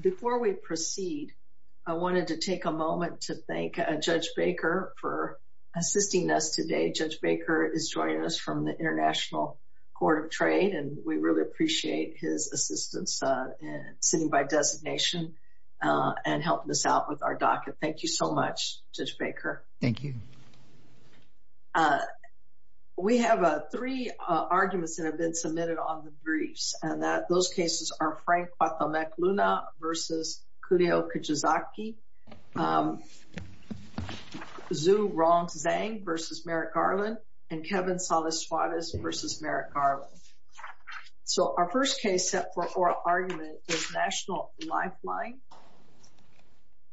Before we proceed, I wanted to take a moment to thank Judge Baker for assisting us today. Judge Baker is joining us from the International Court of Trade and we really appreciate his assistance in sitting by designation and helping us out with our docket. Thank you so much, Judge Baker. Thank you. We have three arguments that have been submitted on the briefs and that those cases are Frank Kwatomek-Luna v. Kudeo Kijizaki, Zhu Rong Zhang v. Merrick Garland, and Kevin Salas-Suarez v. Merrick Garland. So our first case set for oral argument is National Lifeline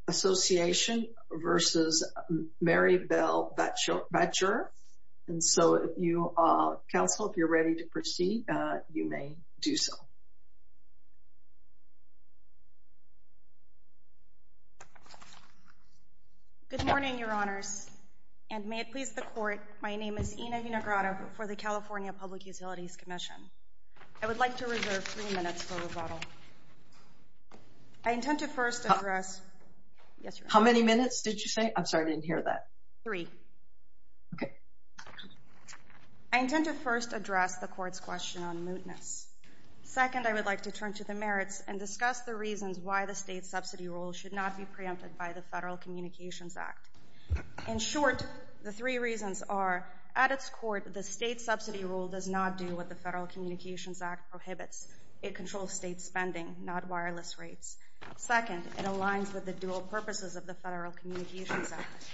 Association v. Marybel Batjer. And so if you, counsel, if you're ready to proceed, you may do so. Good morning, Your Honors, and may it please the Court, my name is Ina Inagrata for the California Public Utilities Commission. I would like to reserve three minutes for rebuttal. I intend to first address... How many minutes did you say? I'm sorry, I didn't hear that. Three. Okay. I intend to first address the Court's question on mootness. Second, I would like to turn to the merits and discuss the reasons why the state subsidy rule should not be preempted by the Federal Communications Act. In short, the three reasons are, at its court, the state subsidy rule does not do what the Federal Communications Act prohibits. It controls state spending, not wireless rates. Second, it aligns with the dual purposes of the Federal Communications Act.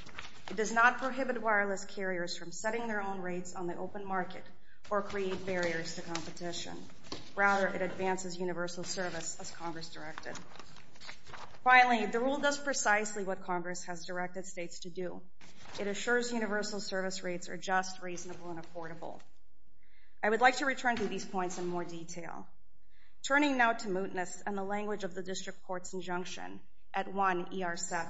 It does not prohibit wireless carriers from setting their own rates on the open market or create barriers to competition. Rather, it advances universal service as Congress directed. Finally, the rule does precisely what Congress has directed states to do. It assures universal service rates are just, reasonable, and affordable. I would like to return to these points in more detail. Turning now to mootness and the language of the District Court's injunction at 1 ER7.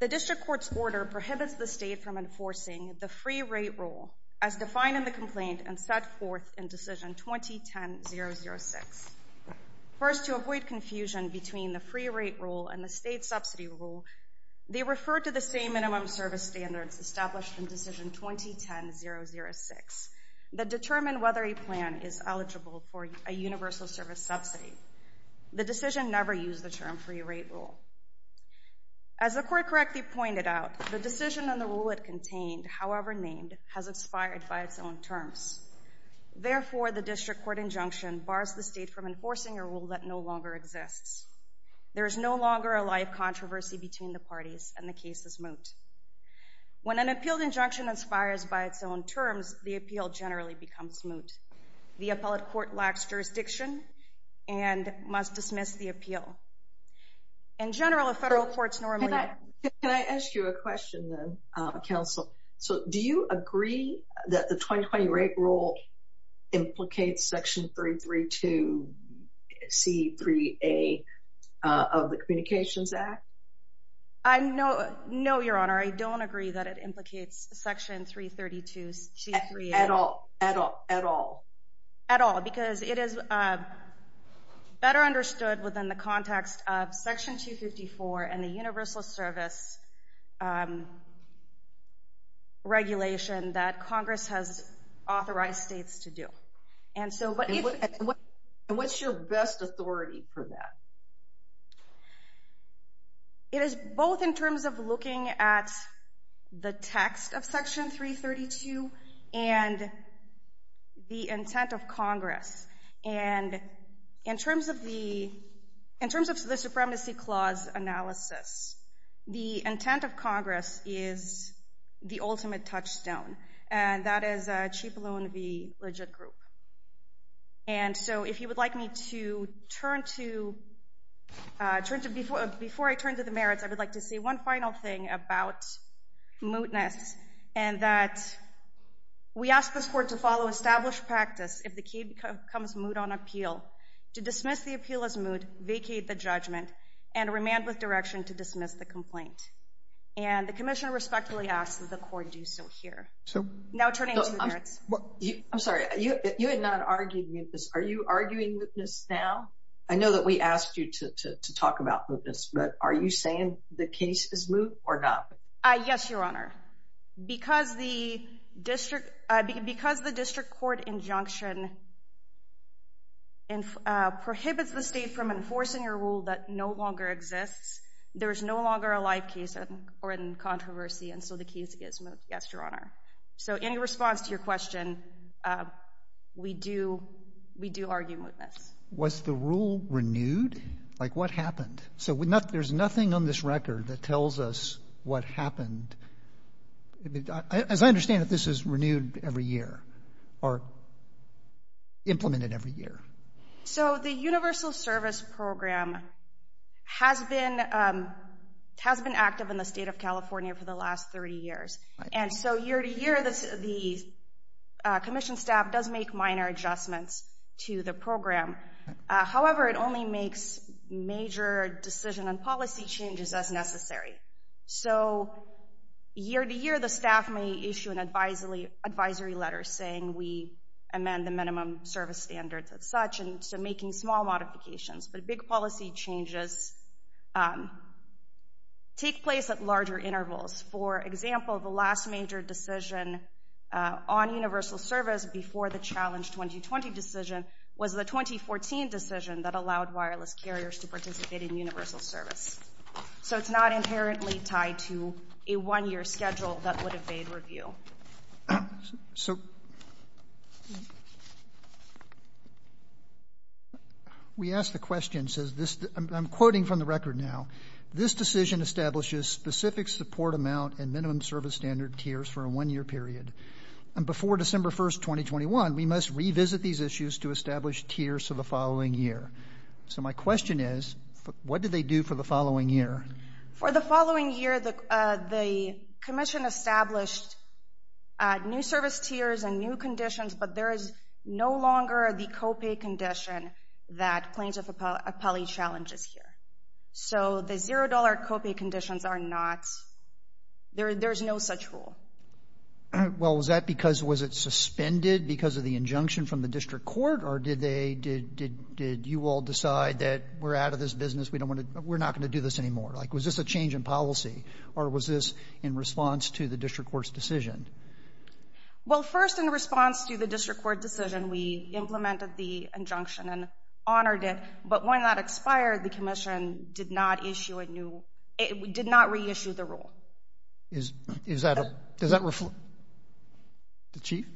The District Court's order prohibits the state from enforcing the free rate rule as defined in the complaint and set forth in Decision 2010-006. First, to avoid confusion between the free rate rule and the state subsidy rule, they refer to the same minimum service standards established in Decision 2010-006 that determine whether a plan is eligible for a universal service subsidy. The decision never used the term free rate rule. As the Court correctly pointed out, the decision and the rule it contained, however named, has expired by its own terms. Therefore, the District Court injunction bars the state from enforcing a rule that no longer exists. There is no longer a live controversy between the parties and the case is moot. When an appealed injunction expires by its terms, the appeal generally becomes moot. The appellate court lacks jurisdiction and must dismiss the appeal. In general, if federal courts normally... Can I ask you a question then, Counsel? So, do you agree that the 2020 rate rule implicates Section 332C3A of the Communications Act? No, Your Honor. I don't agree that it implicates Section 332C3A. At all? At all, because it is better understood within the context of Section 254 and the universal service regulation that Congress has authorized states to do. And what's your best authority for that? It is both in terms of looking at the text of Section 332 and the intent of Congress. And in terms of the Supremacy Clause analysis, the intent of Congress is the ultimate touchstone, and that is Chief Loan v. Legit Group. And so, if you would like me to turn to... Before I turn to the merits, I would like to say one final thing about mootness, and that we ask this court to follow established practice if the case becomes moot on appeal, to dismiss the appeal as moot, vacate the judgment, and remand with direction to dismiss the complaint. And the Commissioner respectfully asks that the court do so here. Now turning to the merits. I'm sorry, you had not argued mootness. Are you arguing mootness now? I know that we asked you to talk about mootness, but are you saying the case is moot or not? Yes, Your Honor. Because the district court injunction prohibits the state from enforcing a rule that no longer exists. There is no longer a live case or in controversy, and so the case is moot. Yes, Your Honor. So in response to your question, we do argue mootness. Was the rule renewed? Like, what happened? So there's nothing on this record that tells us what happened. As I understand it, this is renewed every year or implemented every year. So the Universal Service Program has been active in the state of California for the last 30 years. And so year to year, the Commission staff does make minor adjustments to the program. However, it only makes major decision and policy changes as necessary. So year to year, the staff may issue an advisory letter saying we amend the minimum service standards as such, and so making small modifications. But big policy changes take place at larger intervals. For example, the last major decision on universal service before the challenge 2020 decision was the 2014 decision that allowed wireless carriers to participate in universal service. So it's not inherently tied to a one-year schedule that would evade review. So we asked the question, says this, I'm quoting from the record now, this decision establishes specific support amount and minimum service standard tiers for a one-year period. And before December 1st, 2021, we must revisit these issues to establish tiers for the following year. So my question is, what do they do for the following year? For the following year, the Commission established new service tiers and new conditions, but there is no longer the zero dollar copy conditions are not, there's no such rule. Well, was that because, was it suspended because of the injunction from the District Court or did they, did you all decide that we're out of this business, we don't want to, we're not going to do this anymore? Like, was this a change in policy or was this in response to the District Court's decision? Well, first in response to the District Court decision, we implemented the injunction and honored it, but when that expired, the Commission did not issue a new, it did not reissue the rule. Is that, does that reflect, the Chief?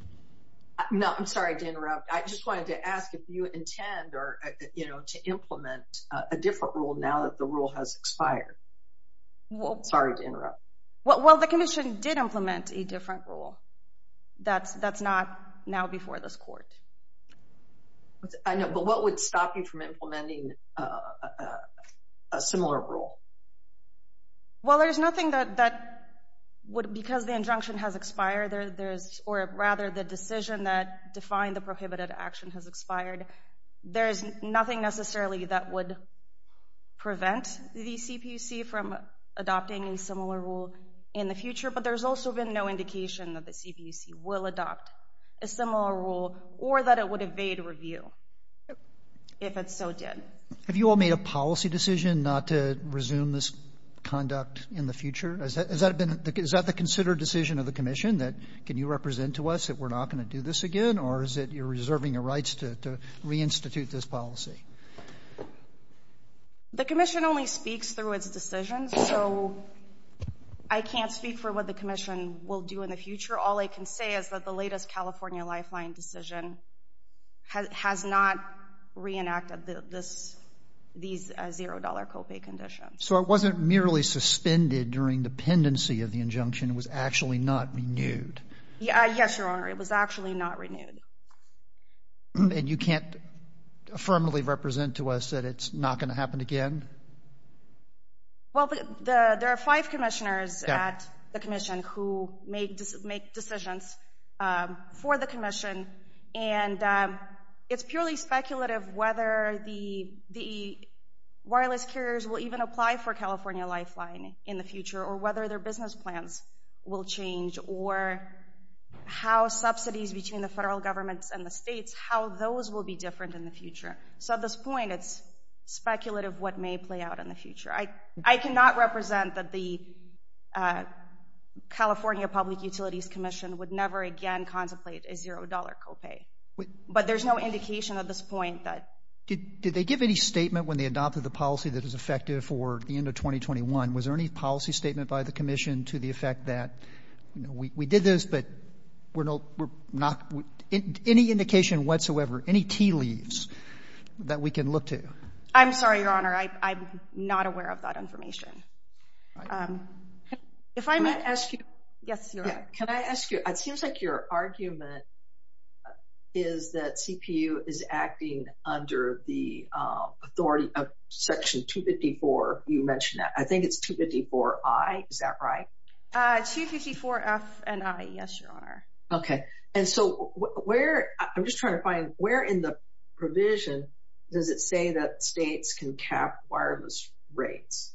No, I'm sorry to interrupt. I just wanted to ask if you intend or, you know, to implement a different rule now that the rule has expired. Sorry to interrupt. Well, the Commission did implement a different rule. That's, that's not now before this Court. I know, but what would stop you from adopting a similar rule? Well, there's nothing that, that would, because the injunction has expired, there's, or rather the decision that defined the prohibited action has expired, there's nothing necessarily that would prevent the CPUC from adopting a similar rule in the future, but there's also been no indication that the CPUC will adopt a similar rule or that it would evade review if it so did. Have you all made a policy decision not to resume this conduct in the future? Has that, has that been, is that the considered decision of the Commission that can you represent to us that we're not going to do this again or is it you're reserving your rights to reinstitute this policy? The Commission only speaks through its decisions, so I can't speak for what the Commission will do in the future. All I can say is that the latest California Lifeline decision has not reenacted this, these zero dollar copay conditions. So it wasn't merely suspended during dependency of the injunction, it was actually not renewed? Yes, Your Honor, it was actually not renewed. And you can't firmly represent to us that it's not going to happen again? Well, the, there are five Commissioners at the Commission who made, make decisions for the Commission and it's purely speculative whether the, the wireless carriers will even apply for California Lifeline in the future or whether their business plans will change or how subsidies between the federal governments and the states, how those will be different in the future. So at this point, it's speculative what may play out in the future. I, I cannot represent that the California Public Utilities Commission would never again contemplate a zero dollar copay, but there's no indication at this point that. Did, did they give any statement when they adopted the policy that is effective for the end of 2021? Was there any policy statement by the Commission to the effect that, you know, we, we did this, but we're not, we're not, any indication whatsoever, any tea leaves that we can look to? I'm sorry, Your Honor, I, I'm not aware of that information. If I may ask you, yes, Your Honor. Can I ask you, it seems like your argument is that CPU is acting under the authority of Section 254, you mentioned that. I think it's 254I, is that right? 254F and I, yes, Your Honor. Okay. And so where, I'm just trying to find, where in the provision does it say that states can cap wireless rates?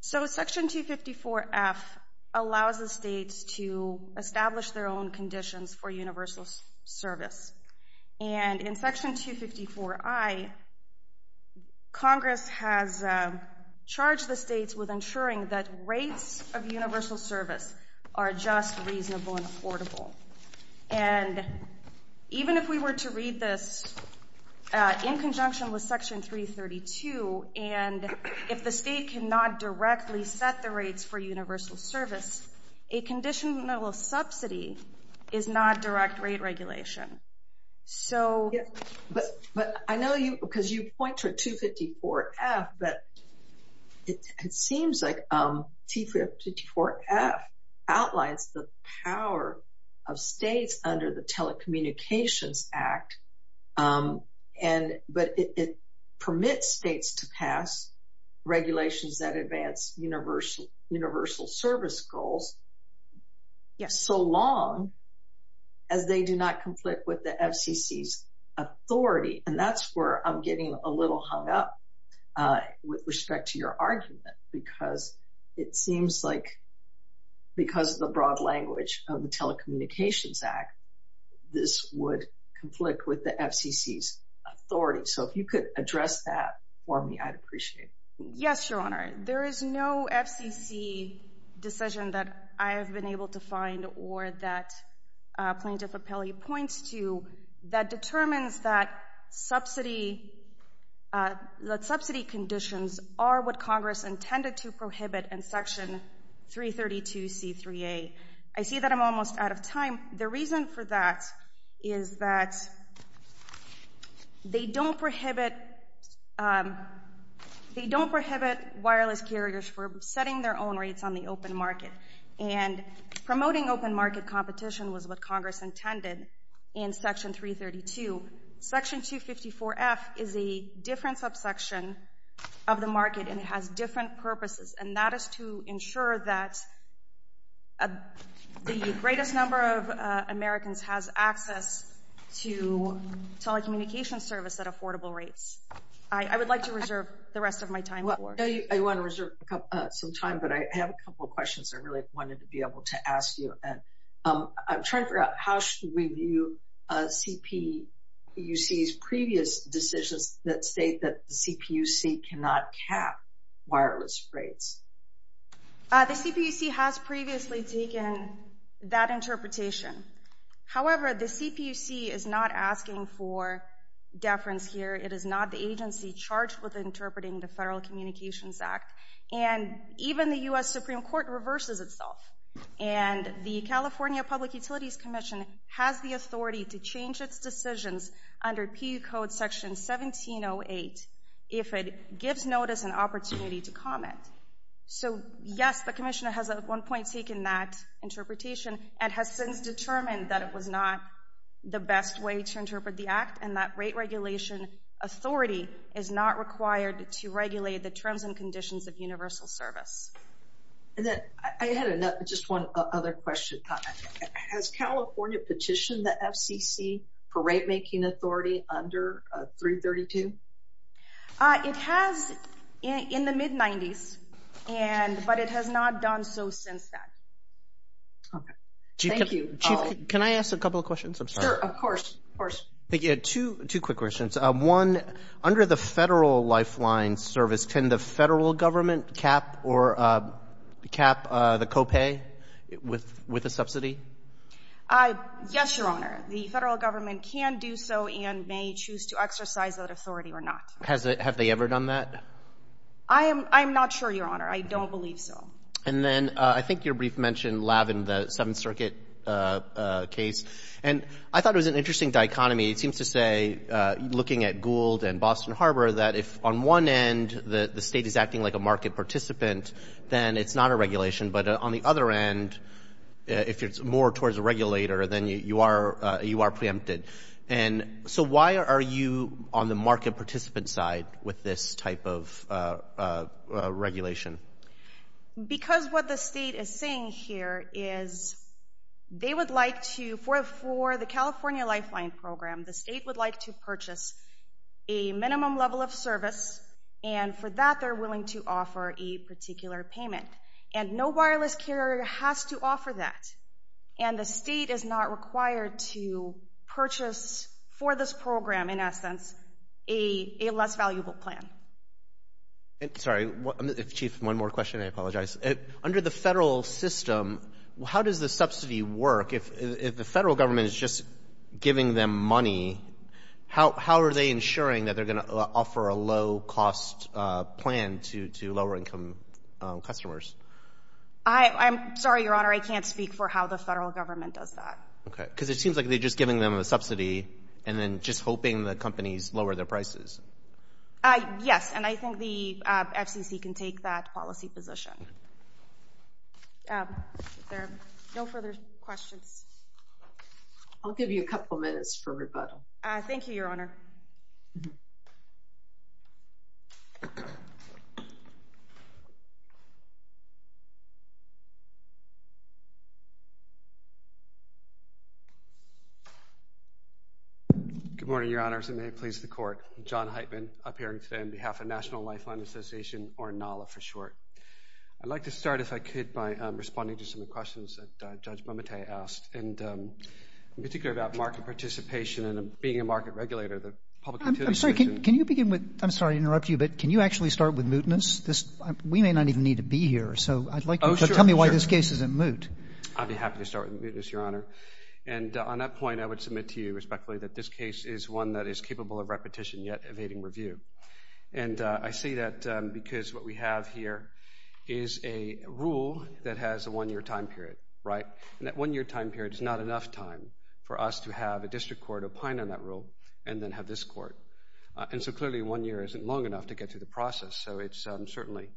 So Section 254F allows the states to establish their own conditions for universal service. And in Section 254I, Congress has charged the states with ensuring that rates of universal service are just reasonable and affordable. And even if we were to read this in conjunction with and if the state cannot directly set the rates for universal service, a conditional subsidy is not direct rate regulation. So, but, but I know you, because you point to 254F, but it seems like 254F outlines the power of states under the past regulations that advance universal service goals so long as they do not conflict with the FCC's authority. And that's where I'm getting a little hung up with respect to your argument, because it seems like, because of the broad language of the Telecommunications Act, this would conflict with the FCC's authority. So if you could address that for me, I'd appreciate it. Yes, Your Honor. There is no FCC decision that I have been able to find or that Plaintiff Appellee points to that determines that subsidy, that subsidy conditions are what Congress intended to prohibit in Section 332C3A. I see that I'm almost out of time. The reason for that is that they don't prohibit, they don't prohibit wireless carriers for setting their own rates on the open market. And promoting open market competition was what Congress intended in Section 332. Section 254F is a different subsection of the market, and it has different conditions. I don't know if Americans has access to telecommunications service at affordable rates. I would like to reserve the rest of my time for it. I want to reserve some time, but I have a couple of questions I really wanted to be able to ask you. I'm trying to figure out how should we view CPUC's previous decisions that state that the CPUC cannot cap wireless rates? The CPUC has previously taken that interpretation. However, the CPUC is not asking for deference here. It is not the agency charged with interpreting the Federal Communications Act, and even the U.S. Supreme Court reverses itself. And the California Public Utilities Commission has the authority to change its decisions under PE Code Section 1708 if it gives notice and opportunity to comment. So yes, the commissioner has at one point taken that interpretation and has since determined that it was not the best way to interpret the act, and that rate regulation authority is not required to regulate the terms and conditions of universal service. I had just one other question. Has California petitioned the FCC for rate making authority under 332? It has in the mid-90s, but it has not done so since that. Okay. Thank you. Chief, can I ask a couple of questions? I'm sorry. Of course, of course. Thank you. Two quick questions. One, under the federal lifeline service, can the federal government can do so and may choose to exercise that authority or not? Have they ever done that? I am not sure, Your Honor. I don't believe so. And then I think you briefly mentioned LAV in the Seventh Circuit case, and I thought it was an interesting dichotomy. It seems to say, looking at Gould and Boston Harbor, that if on one end the state is acting like a market participant, then it's not a regulation. But on the other end, if it's more towards a regulator, then you are preempted. And so why are you on the market participant side with this type of regulation? Because what the state is saying here is they would like to, for the California lifeline program, the state would like to purchase a minimum level of service, and for that they're willing to offer a particular payment. And no wireless carrier has to offer that. And the state is not required to purchase for this program, in essence, a less valuable plan. Sorry, Chief, one more question. I apologize. Under the federal system, how does the subsidy work? If the federal government is just giving them money, how are they ensuring that they're going to offer a low cost plan to lower income customers? I'm sorry, Your Honor, I can't speak for how the federal government does that. Okay, because it seems like they're just giving them a subsidy and then just hoping the companies lower their prices. Yes, and I think the FCC can take that policy position. No further questions. I'll give you a couple minutes for rebuttal. Thank you, Your Honor. Good morning, Your Honors, and may it please the Court. John Heitman, appearing today on behalf of National Lifeline Association, or NALA for short. I'd like to start, if I could, by responding to some of the questions that Judge Momotai asked, and in particular about market participation and being a market regulator. I'm sorry to interrupt you, but can you actually start with mootness? We may not even need to be here, so tell me why this case isn't moot. I'd be happy to start with mootness, Your Honor. And on that point, I would submit to you respectfully that this case is one that is capable of repetition, yet evading review. And I say that because what we have here is a rule that has a one-year time period. It's not enough time for us to have a district court opine on that rule and then have this court. And so clearly, one year isn't long enough to get through the process, so it's certainly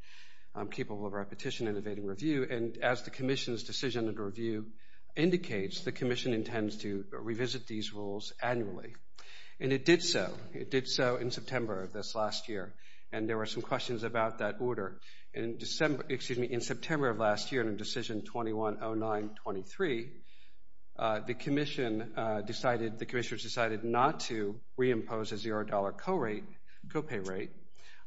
capable of repetition and evading review. And as the Commission's decision and review indicates, the Commission intends to revisit these rules annually. And it did so. It did so in September of this last year, and there were some questions about that order. In September of last year, in Decision 2109.23, the Commission decided, the Commissioners decided not to reimpose a zero-dollar copay rate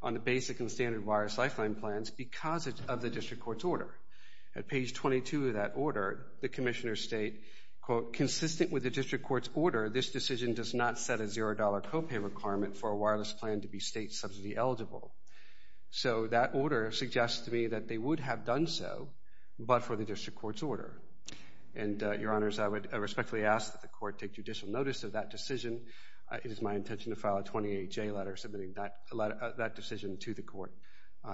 on the basic and standard wireless lifeline plans because of the district court's order. At page 22 of that order, the Commissioners state, quote, consistent with the district court's order, this decision does not set a zero-dollar copay requirement for a wireless plan to be state subsidy eligible. So that order suggests to me that they would have done so, but for the district court's order. And, Your Honors, I would respectfully ask that the court take judicial notice of that decision. It is my intention to file a 28-J letter submitting that decision to the court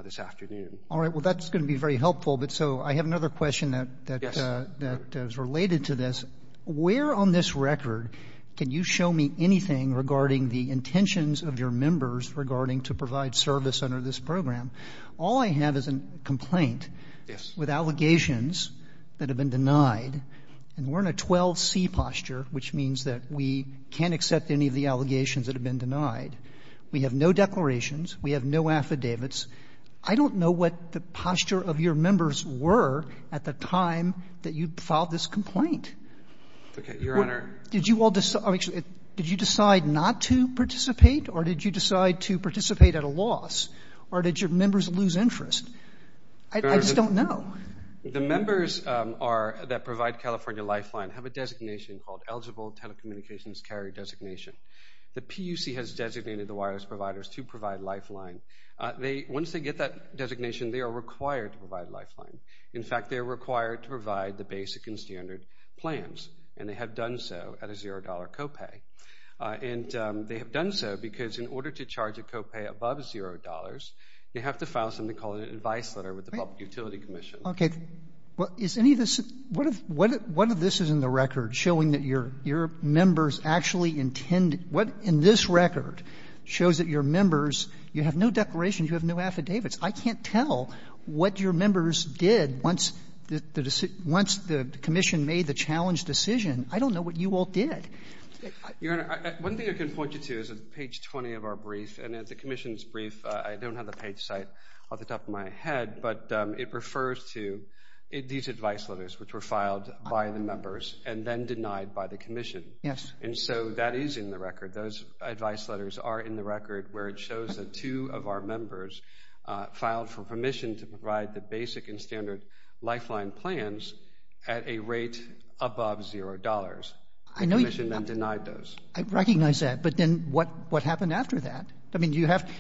this afternoon. All right. Well, that's going to be very helpful, but so I have another question that is related to this. Where on this record can you show me anything regarding the intentions of your members regarding to provide service under this program? All I have is a complaint. Yes. With allegations that have been denied, and we're in a 12-C posture, which means that we can't accept any of the allegations that have been denied. We have no declarations. We have no affidavits. I don't know what the posture of your members were at the time that you filed this complaint. Okay. Your Honor. Did you all decide, did you decide not to participate, or did you decide to participate at a loss, or did your members lose interest? I just don't know. The members that provide California Lifeline have a designation called Eligible Telecommunications Carry Designation. The PUC has designated the wireless providers to provide Lifeline. Once they get that designation, they are required to provide Lifeline. In fact, they are required to provide the basic and standard plans, and they have done so at a zero dollar copay. And they have done so because in order to charge a copay above zero dollars, they have to file something called an advice letter with the Public Utility Commission. Okay. Well, is any of this, what if, what if this is in the record showing that your, your members actually intend, what in this record shows that your members, you have no declarations, you have no affidavits. I can't tell what your members did once the, once the Commission made the challenge decision. I don't know what you all did. Your Honor, one thing I can point you to is on page 20 of our brief, and at the Commission's brief, I don't have the page site off the top of my head, but it refers to these advice letters, which were filed by the members and then denied by the Commission. Yes. And so that is in the record. Those advice letters are in the record where it shows that two of our members filed for permission to provide the basic and standard lifeline plans at a rate above zero dollars. The Commission then denied those. I recognize that, but then what, what happened after that? I mean, do you have,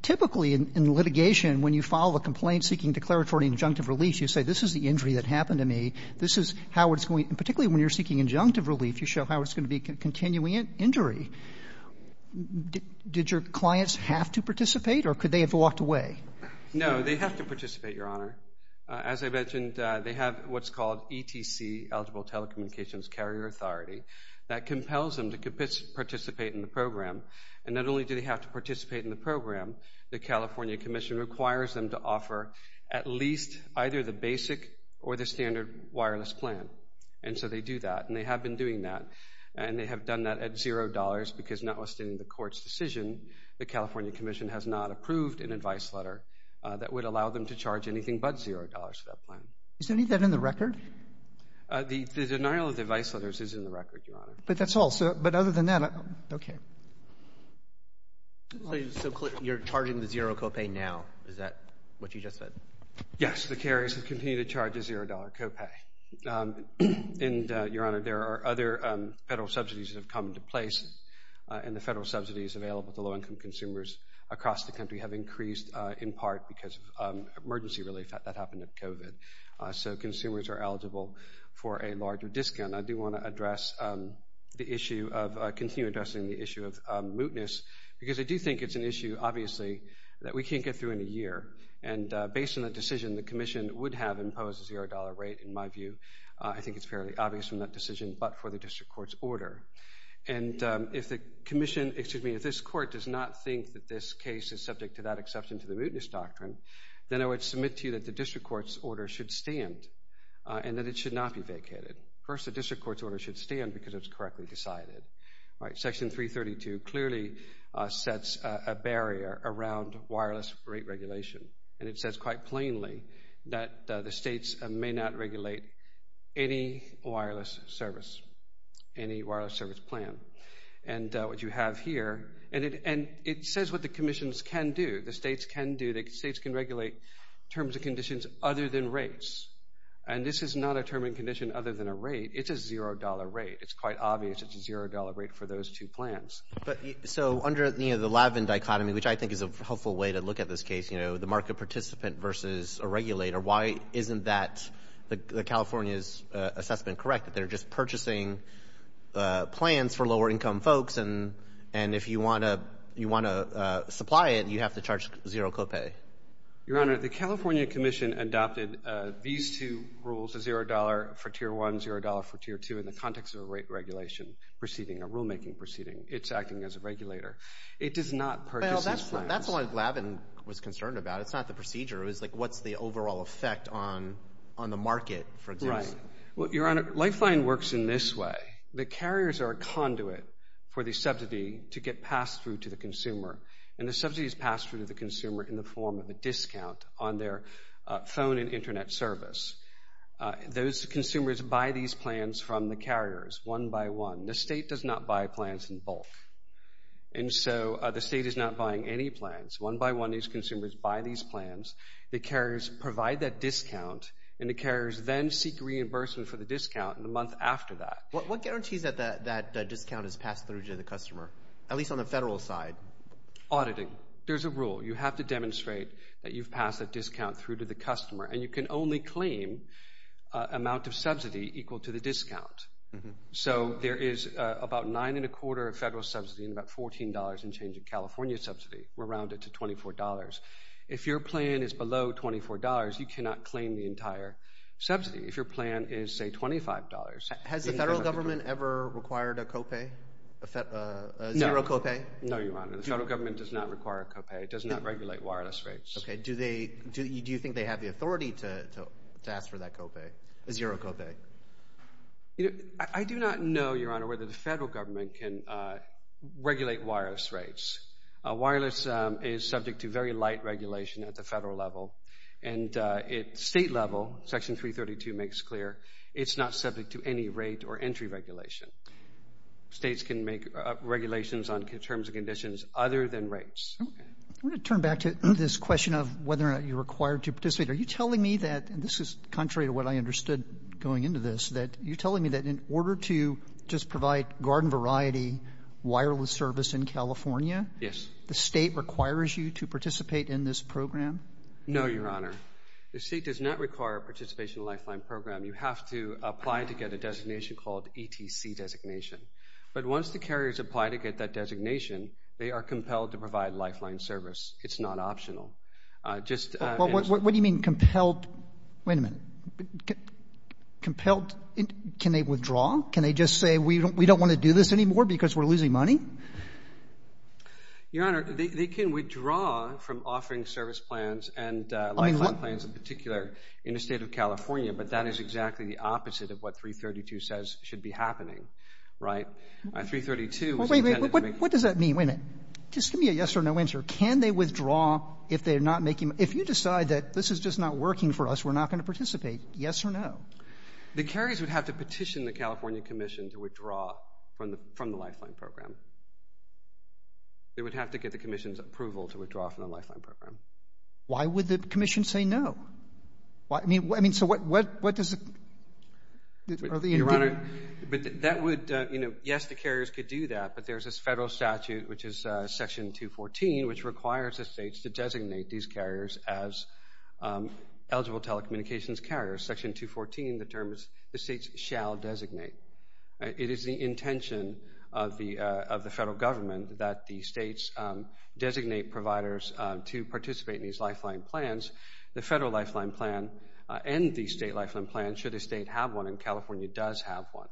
typically in litigation, when you file a complaint seeking declaratory injunctive relief, you say, this is the injury that happened to me. This is how it's going, and particularly when you're seeking injunctive relief, you show how it's going to be continuing injury. Did your clients have to participate or could they have No, they have to participate, Your Honor. As I mentioned, they have what's called ETC, Eligible Telecommunications Carrier Authority, that compels them to participate in the program, and not only do they have to participate in the program, the California Commission requires them to offer at least either the basic or the standard wireless plan, and so they do that, and they have been doing that, and they have done that at zero dollars because notwithstanding the Court's decision, the California Commission has not approved an advice letter that would allow them to charge anything but zero dollars for that plan. Is any of that in the record? The denial of the advice letters is in the record, Your Honor. But that's all, so, but other than that, okay. You're charging the zero copay now, is that what you just said? Yes, the carriers continue to charge a zero dollar copay, and Your Honor, there are other federal subsidies that have come into place, and the federal subsidies available to low-income consumers across the country have increased in part because of emergency relief that happened with COVID, so consumers are eligible for a larger discount. I do want to address the issue of, continue addressing the issue of mootness, because I do think it's an issue, obviously, that we can't get through in a year, and based on the decision, the Commission would have imposed a zero dollar rate, in my view. I think it's fairly obvious from that decision, but for the District Court's order, and if the Commission, excuse me, if this Court does not think that this case is subject to that exception to the mootness doctrine, then I would submit to you that the District Court's order should stand, and that it should not be vacated. First, the District Court's order should stand because it's correctly decided. All right, Section 332 clearly sets a barrier around wireless rate regulation, and it says quite plainly that the states may not regulate any wireless service, any wireless service plan, and what you have here, and it says what the commissions can do, the states can do, the states can regulate terms and conditions other than rates, and this is not a term and condition other than a rate. It's a zero dollar rate. It's quite obvious it's a zero dollar rate for those two plans. So, under the Lavin dichotomy, which I think is a helpful way to look at this case, you know, the market participant versus a regulator, why isn't that California's assessment correct, that they're just purchasing plans for lower income folks, and if you want to supply it, you have to charge zero copay? Your Honor, the California Commission adopted these two rules, a zero dollar for tier one, zero dollar for tier two, in the context of a rate regulation proceeding, a rulemaking proceeding. It's acting as a regulator. It does not purchase these plans. Well, that's what Lavin was concerned about. It's not the Right. Well, Your Honor, Lifeline works in this way. The carriers are a conduit for the subsidy to get passed through to the consumer, and the subsidy is passed through to the consumer in the form of a discount on their phone and internet service. Those consumers buy these plans from the carriers one by one. The state does not buy plans in bulk, and so the state is not buying any plans. One by one, these consumers buy these plans. The carriers provide that discount, and the carriers then seek reimbursement for the discount in the month after that. What guarantees that that discount is passed through to the customer, at least on the federal side? Auditing. There's a rule. You have to demonstrate that you've passed that discount through to the customer, and you can only claim amount of subsidy equal to the discount. So there is about nine and a quarter of federal subsidy and about $14 in change of California subsidy. We round it to $24. If your plan is subsidy, if your plan is, say, $25. Has the federal government ever required a copay? Zero copay? No, Your Honor. The federal government does not require a copay. It does not regulate wireless rates. Okay. Do you think they have the authority to ask for that copay, a zero copay? I do not know, Your Honor, whether the federal government can regulate wireless rates. Wireless is subject to very light regulation at the federal level, and at state level, Section 332 makes clear, it's not subject to any rate or entry regulation. States can make regulations on terms and conditions other than rates. I want to turn back to this question of whether or not you're required to participate. Are you telling me that, and this is contrary to what I understood going into this, that you're telling me that in order to just provide garden variety wireless service in California, the state requires you to participate in this program? No, Your Honor. The state does not require a participation lifeline program. You have to apply to get a designation called ETC designation, but once the carriers apply to get that designation, they are compelled to provide lifeline service. It's not optional. What do you mean compelled? Wait a minute. Compelled? Can they withdraw? Can they just say, we don't want to do this anymore because we're losing money? Your Honor, they can withdraw from offering service plans and lifeline plans in particular in the state of California, but that is exactly the opposite of what 332 says should be happening, right? 332 is intended to make... Wait a minute. What does that mean? Wait a minute. Just give me a yes or no answer. Can they withdraw if they're not making... If you decide that this is just not working for us, we're not going to participate, yes or no? The carriers would have to petition the California Commission to withdraw from the lifeline program. They would have to get the Commission's approval to withdraw from the lifeline program. Why would the Commission say no? I mean, so what does... Your Honor, but that would... Yes, the carriers could do that, but there's this federal statute, which is section 214, which requires the states to eligible telecommunications carriers. Section 214 determines the states shall designate. It is the intention of the federal government that the states designate providers to participate in these lifeline plans. The federal lifeline plan and the state lifeline plan should a state have one, and California does have one.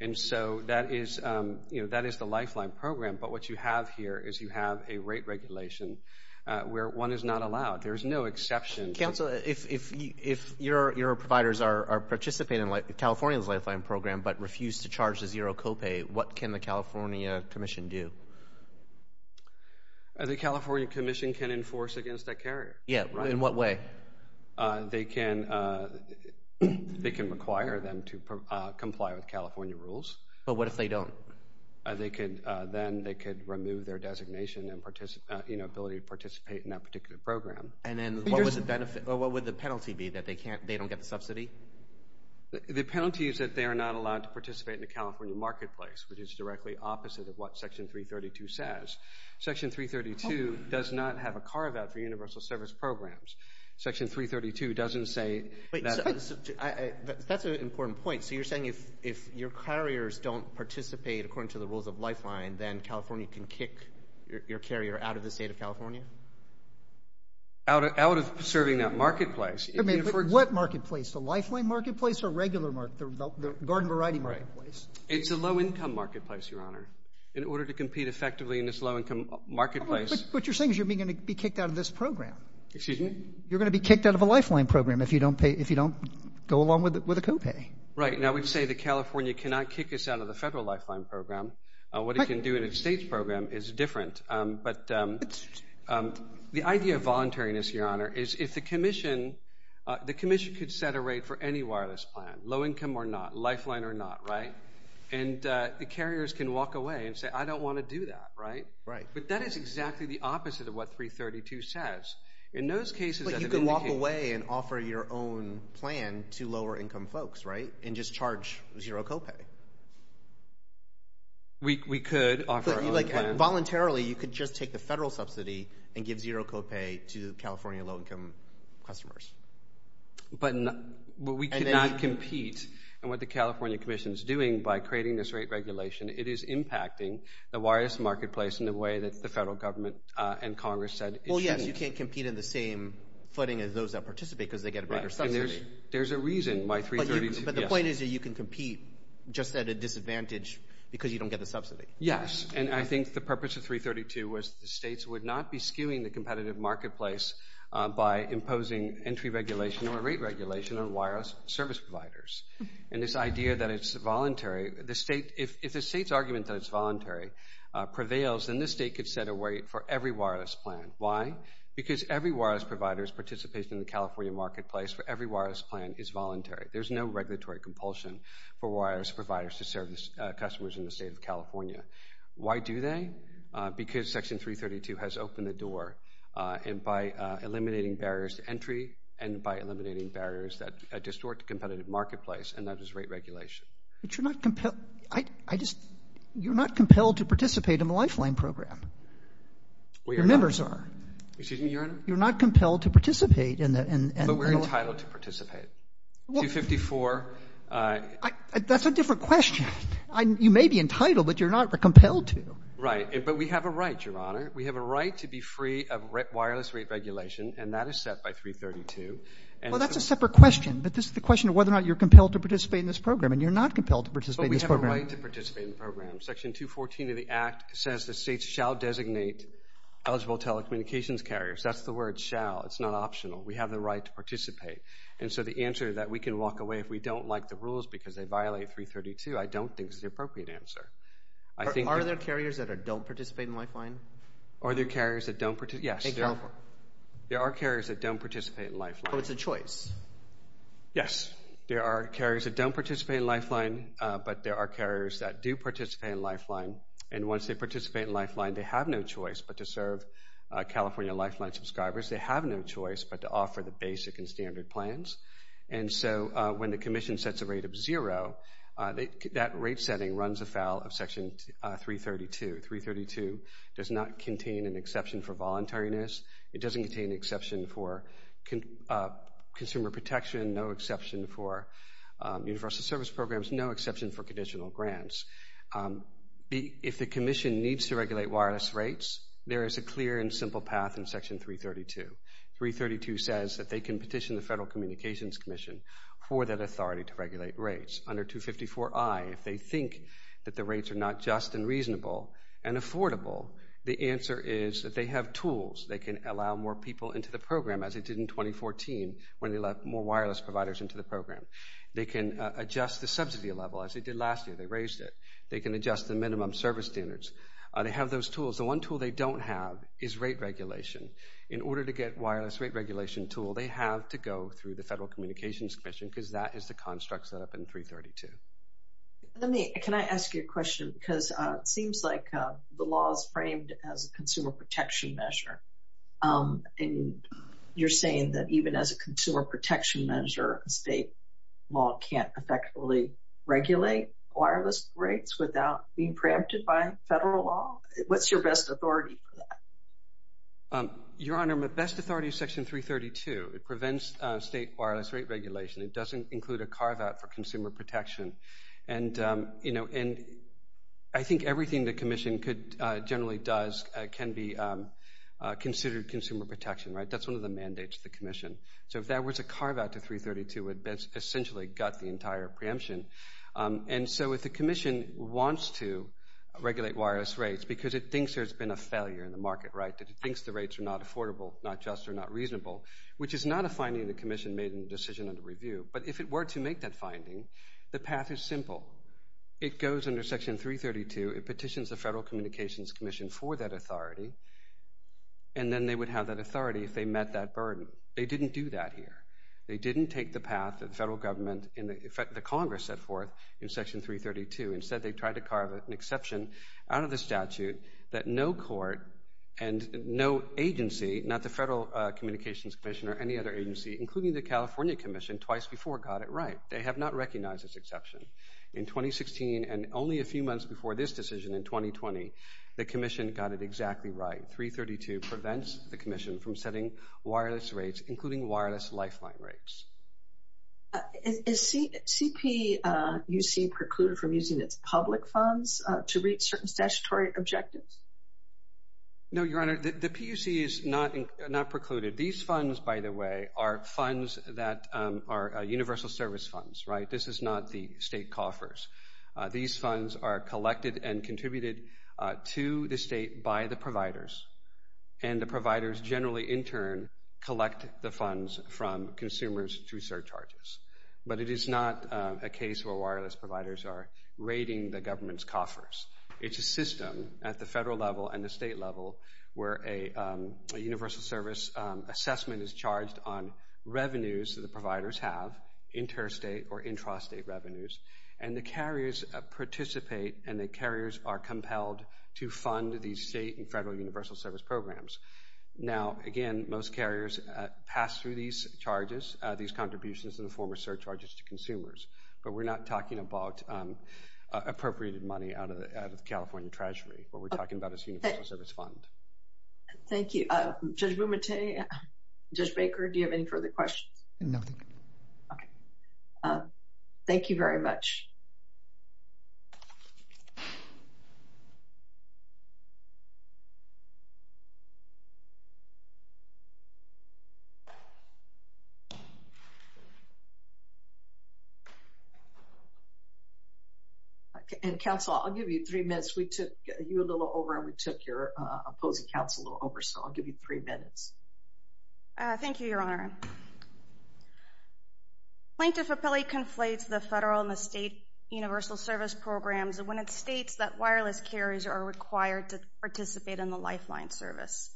And so that is the lifeline program, but what you have here is a rate regulation where one is not allowed. There is no exception. Counsel, if your providers are participating in California's lifeline program but refuse to charge a zero copay, what can the California Commission do? The California Commission can enforce against that carrier. Yeah, in what way? They can require them to comply with California rules. But what if they don't? They could then remove their designation and ability to participate in that particular program. And then what would the penalty be that they don't get the subsidy? The penalty is that they are not allowed to participate in the California marketplace, which is directly opposite of what section 332 says. Section 332 does not have a carve-out for universal service programs. Section 332 doesn't say... Wait, that's an important point. So you're carriers don't participate according to the rules of lifeline, then California can kick your carrier out of the state of California? Out of serving that marketplace. I mean, what marketplace? The lifeline marketplace or regular market, the garden variety marketplace? It's a low-income marketplace, Your Honor. In order to compete effectively in this low-income marketplace... But you're saying you're going to be kicked out of this program. Excuse me? You're going to be kicked out of a lifeline program if you don't go along with a copay. Right. Now, we'd say that California cannot kick us out of the federal lifeline program. What it can do in a state's program is different. But the idea of voluntariness, Your Honor, is if the commission could set a rate for any wireless plan, low-income or not, lifeline or not, right? And the carriers can walk away and say, I don't want to do that, right? Right. But that is exactly the opposite of what 332 says. In those cases... But you can walk away and offer your own plan to lower-income folks, right? And just charge zero copay. We could offer our own plan. Voluntarily, you could just take the federal subsidy and give zero copay to California low-income customers. But we cannot compete. And what the California Commission is doing by creating this rate regulation, it is impacting the wireless marketplace in the way that the federal government and Congress said it should. Well, yes. You can't compete in the same footing as those that participate because they get a bigger subsidy. Right. And there's a reason why 332... But the point is that you can compete just at a disadvantage because you don't get the subsidy. Yes. And I think the purpose of 332 was the states would not be skewing the competitive marketplace by imposing entry regulation or rate regulation on wireless service providers. And this idea that it's voluntary, if the state's argument that it's voluntary prevails, then this state could set a rate for every wireless plan. Why? Because every wireless provider's participation in the California marketplace for every wireless plan is voluntary. There's no regulatory compulsion for wireless providers to serve the customers in the state of California. Why do they? Because Section 332 has opened the door. And by eliminating barriers to entry and by eliminating barriers that distort the competitive marketplace, and that is rate regulation. But you're not compelled... I just... You're not compelled to participate in the Lifeline program. Your members are. Excuse me, Your Honor? You're not compelled to participate in the... But we're entitled to participate. 254... That's a different question. You may be entitled, but you're not compelled to. Right. But we have a right, Your Honor. We have a right to be free of wireless rate regulation, and that is set by 332. Well, that's a separate question, but this is the question of whether or not you're compelled to participate in this program, and you're not compelled to participate in this program. But we have a right to participate in the program. Section 214 of the Act says the state shall designate eligible telecommunications carriers. That's the word, shall. It's not optional. We have the right to participate. And so the answer that we can walk away if we don't like the rules because they violate 332, I don't think is the appropriate answer. I think... Are there carriers that don't participate in Lifeline? Are there carriers that don't participate? Yes. In California? There are carriers that don't participate in Lifeline. So it's a choice? Yes. There are carriers that don't participate in Lifeline, but there are carriers that do participate in Lifeline. And once they participate in Lifeline, they have no choice but to serve California Lifeline subscribers. They have no choice but to offer the basic and standard plans. And so when the Commission sets a rate of zero, that rate setting runs afoul of Section 332. 332 does not contain an exception for voluntariness. It doesn't contain an exception for consumer protection, no exception for universal service programs, no exception for conditional grants. If the Commission needs to regulate wireless rates, there is a clear and simple path in Section 332. 332 says that they can petition the Federal Communications Commission for that authority to regulate rates. Under 254I, if they think that the rates are not just and reasonable and affordable, the answer is that they have tools. They can allow more people into the program as they did in 2014 when they let more wireless providers into the program. They can adjust the subsidy level as they did last year. They raised it. They can adjust the minimum service standards. They have those tools. The one tool they don't have is rate regulation. In order to get wireless rate regulation tool, they have to go through the Federal Communications Commission because that is the construct set up in 332. Can I ask you a question? Because it seems like the law is framed as a consumer protection measure. And you're saying that even as a consumer protection measure, state law can't effectively regulate wireless rates without being preempted by federal law? What's your best authority for that? Your Honor, my best authority is Section 332. It prevents state wireless rate regulation. It doesn't include a carve-out for consumer protection. And, you know, I think everything the Commission generally does can be considered consumer protection, right? That's one of the mandates of the Commission. So if there was a carve-out to 332, it would essentially gut the entire preemption. And so if the Commission wants to regulate wireless rates because it thinks there's been a failure in the market, right? It thinks the rates are not affordable, not just, or not reasonable, which is not a finding of the Commission made in the decision under review. But if it were to make that finding, the path is simple. It goes under Section 332. It petitions the Federal Communications Commission for that authority. And then they would have that authority if they met that burden. They didn't do that here. They didn't take the path that the federal government, in fact, the Congress set forth in Section 332. Instead, they tried to carve an exception out of the statute that no court and no agency, not the Federal Communications Commission or any other agency, including the California Commission, twice before got it right. They have not recognized this exception. In 2016 and only a few months before this decision in 2020, the Commission got it exactly right. 332 prevents the Commission from setting wireless rates, including wireless lifeline rates. Is CPUC precluded from using its public funds to reach certain statutory objectives? No, Your Honor, the PUC is not precluded. These funds, by the way, are funds that are universal service funds, right? This is not the state coffers. These funds are collected and contributed to the state by the providers. And the providers generally, in turn, collect the funds from consumers through surcharges. But it is not a case where wireless providers are the government's coffers. It's a system at the federal level and the state level where a universal service assessment is charged on revenues that the providers have, interstate or intrastate revenues. And the carriers participate, and the carriers are compelled to fund these state and federal universal service programs. Now, again, most carriers pass through these charges, these contributions in the form of surcharges to consumers. But we're not talking about appropriated money out of the California Treasury. What we're talking about is universal service funds. Thank you. Judge Bumate, Judge Baker, do you have any further questions? No, thank you. Okay. Thank you very much. And counsel, I'll give you three minutes. We took you a little over and we took your opposing counsel a little over, so I'll give you three minutes. Thank you, Your Honor. Plaintiff appellate conflates the federal and the state universal service programs when it states that wireless carriers are required to participate in the lifeline service.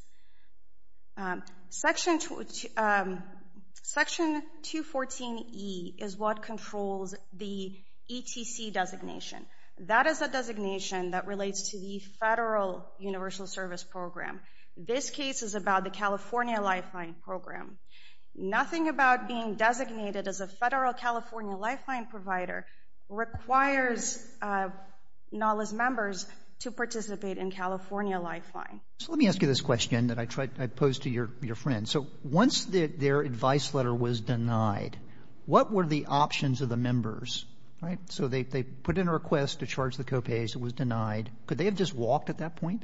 Section 214E is what controls the ETC designation. That is a designation that relates to the federal universal service program. This case is about the California lifeline program. Nothing about being designated as a federal California lifeline provider requires NALA's members to participate in California lifeline. So let me ask you this question that I posed to your friend. So once their advice letter was denied, what were the options of the members, right? So they put in a request to charge the federal universal service program. Once their advice letter was denied, could they have just walked at that point?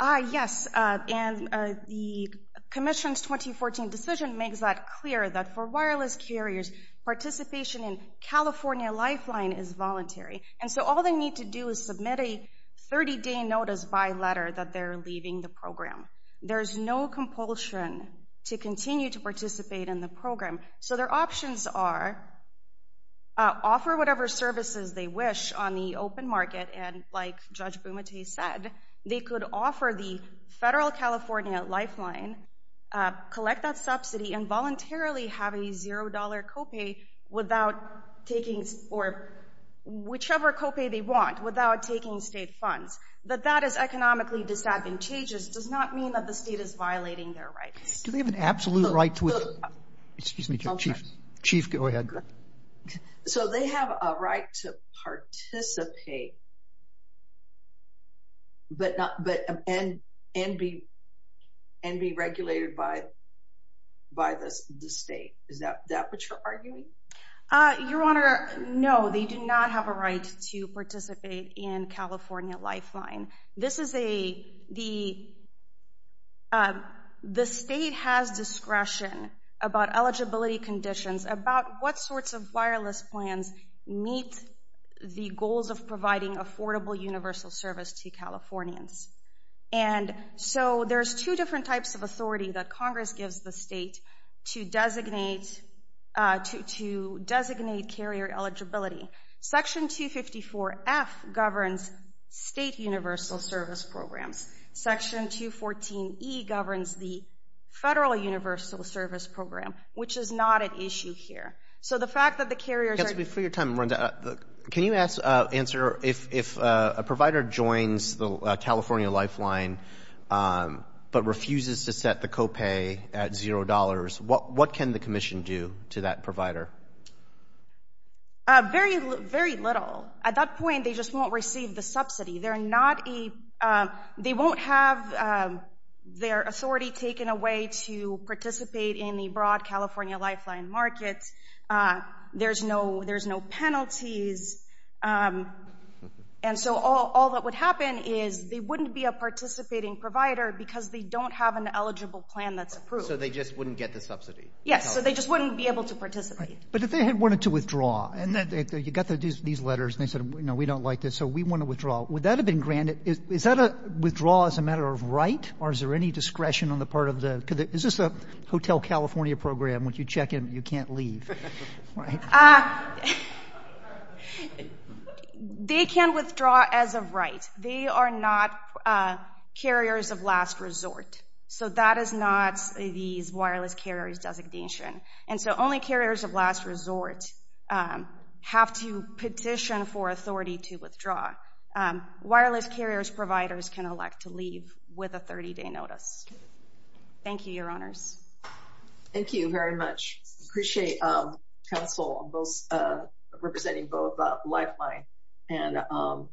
Yes. And the commission's 2014 decision makes that clear that for wireless carriers, participation in California lifeline is voluntary. And so all they need to do is submit a 30-day notice by letter that they're leaving the program. There's no compulsion to continue to participate in the program. So their options are offer whatever services they wish on the open market. And like Judge Bumate said, they could offer the federal California lifeline, collect that subsidy, and voluntarily have a $0 copay without taking or whichever copay they want without taking state funds. That that is economically disadvantageous does not mean the state is violating their rights. Do they have an absolute right to? Excuse me, Chief. Chief, go ahead. So they have a right to participate and be regulated by the state. Is that what you're arguing? Your Honor, no, they do not have a right to participate in California lifeline. This is a, the state has discretion about eligibility conditions, about what sorts of wireless plans meet the goals of providing affordable universal service to Californians. And so there's two different types of authority that Congress gives the state to designate, to designate carrier eligibility. Section 254F governs state universal service programs. Section 214E governs the federal universal service program, which is not an issue here. So the fact that the carriers are—Counsel, before your time runs out, can you answer if a what can the commission do to that provider? Very, very little. At that point, they just won't receive the subsidy. They're not a, they won't have their authority taken away to participate in the broad California lifeline markets. There's no, there's no penalties. And so all that would happen is they wouldn't be a participating provider because they don't have an eligible plan that's approved. So they just wouldn't get the subsidy? Yes. So they just wouldn't be able to participate. But if they had wanted to withdraw and that you got these letters and they said, no, we don't like this. So we want to withdraw. Would that have been granted? Is that a withdraw as a matter of right? Or is there any discretion on the part of the, is this a Hotel California program, which you check in, you can't leave? They can withdraw as a right. They are not carriers of last resort. So that is not these wireless carriers designation. And so only carriers of last resort have to petition for authority to withdraw. Wireless carriers providers can elect to leave with a 30-day notice. Thank you, your honors. Thank you very much. Appreciate council both representing both lifeline and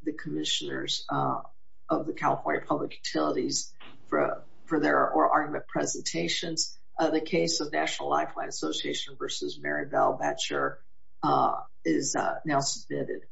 the commissioners of the California public utilities for their argument presentations. The case of National Lifeline Association versus Marybel Batcher is now submitted.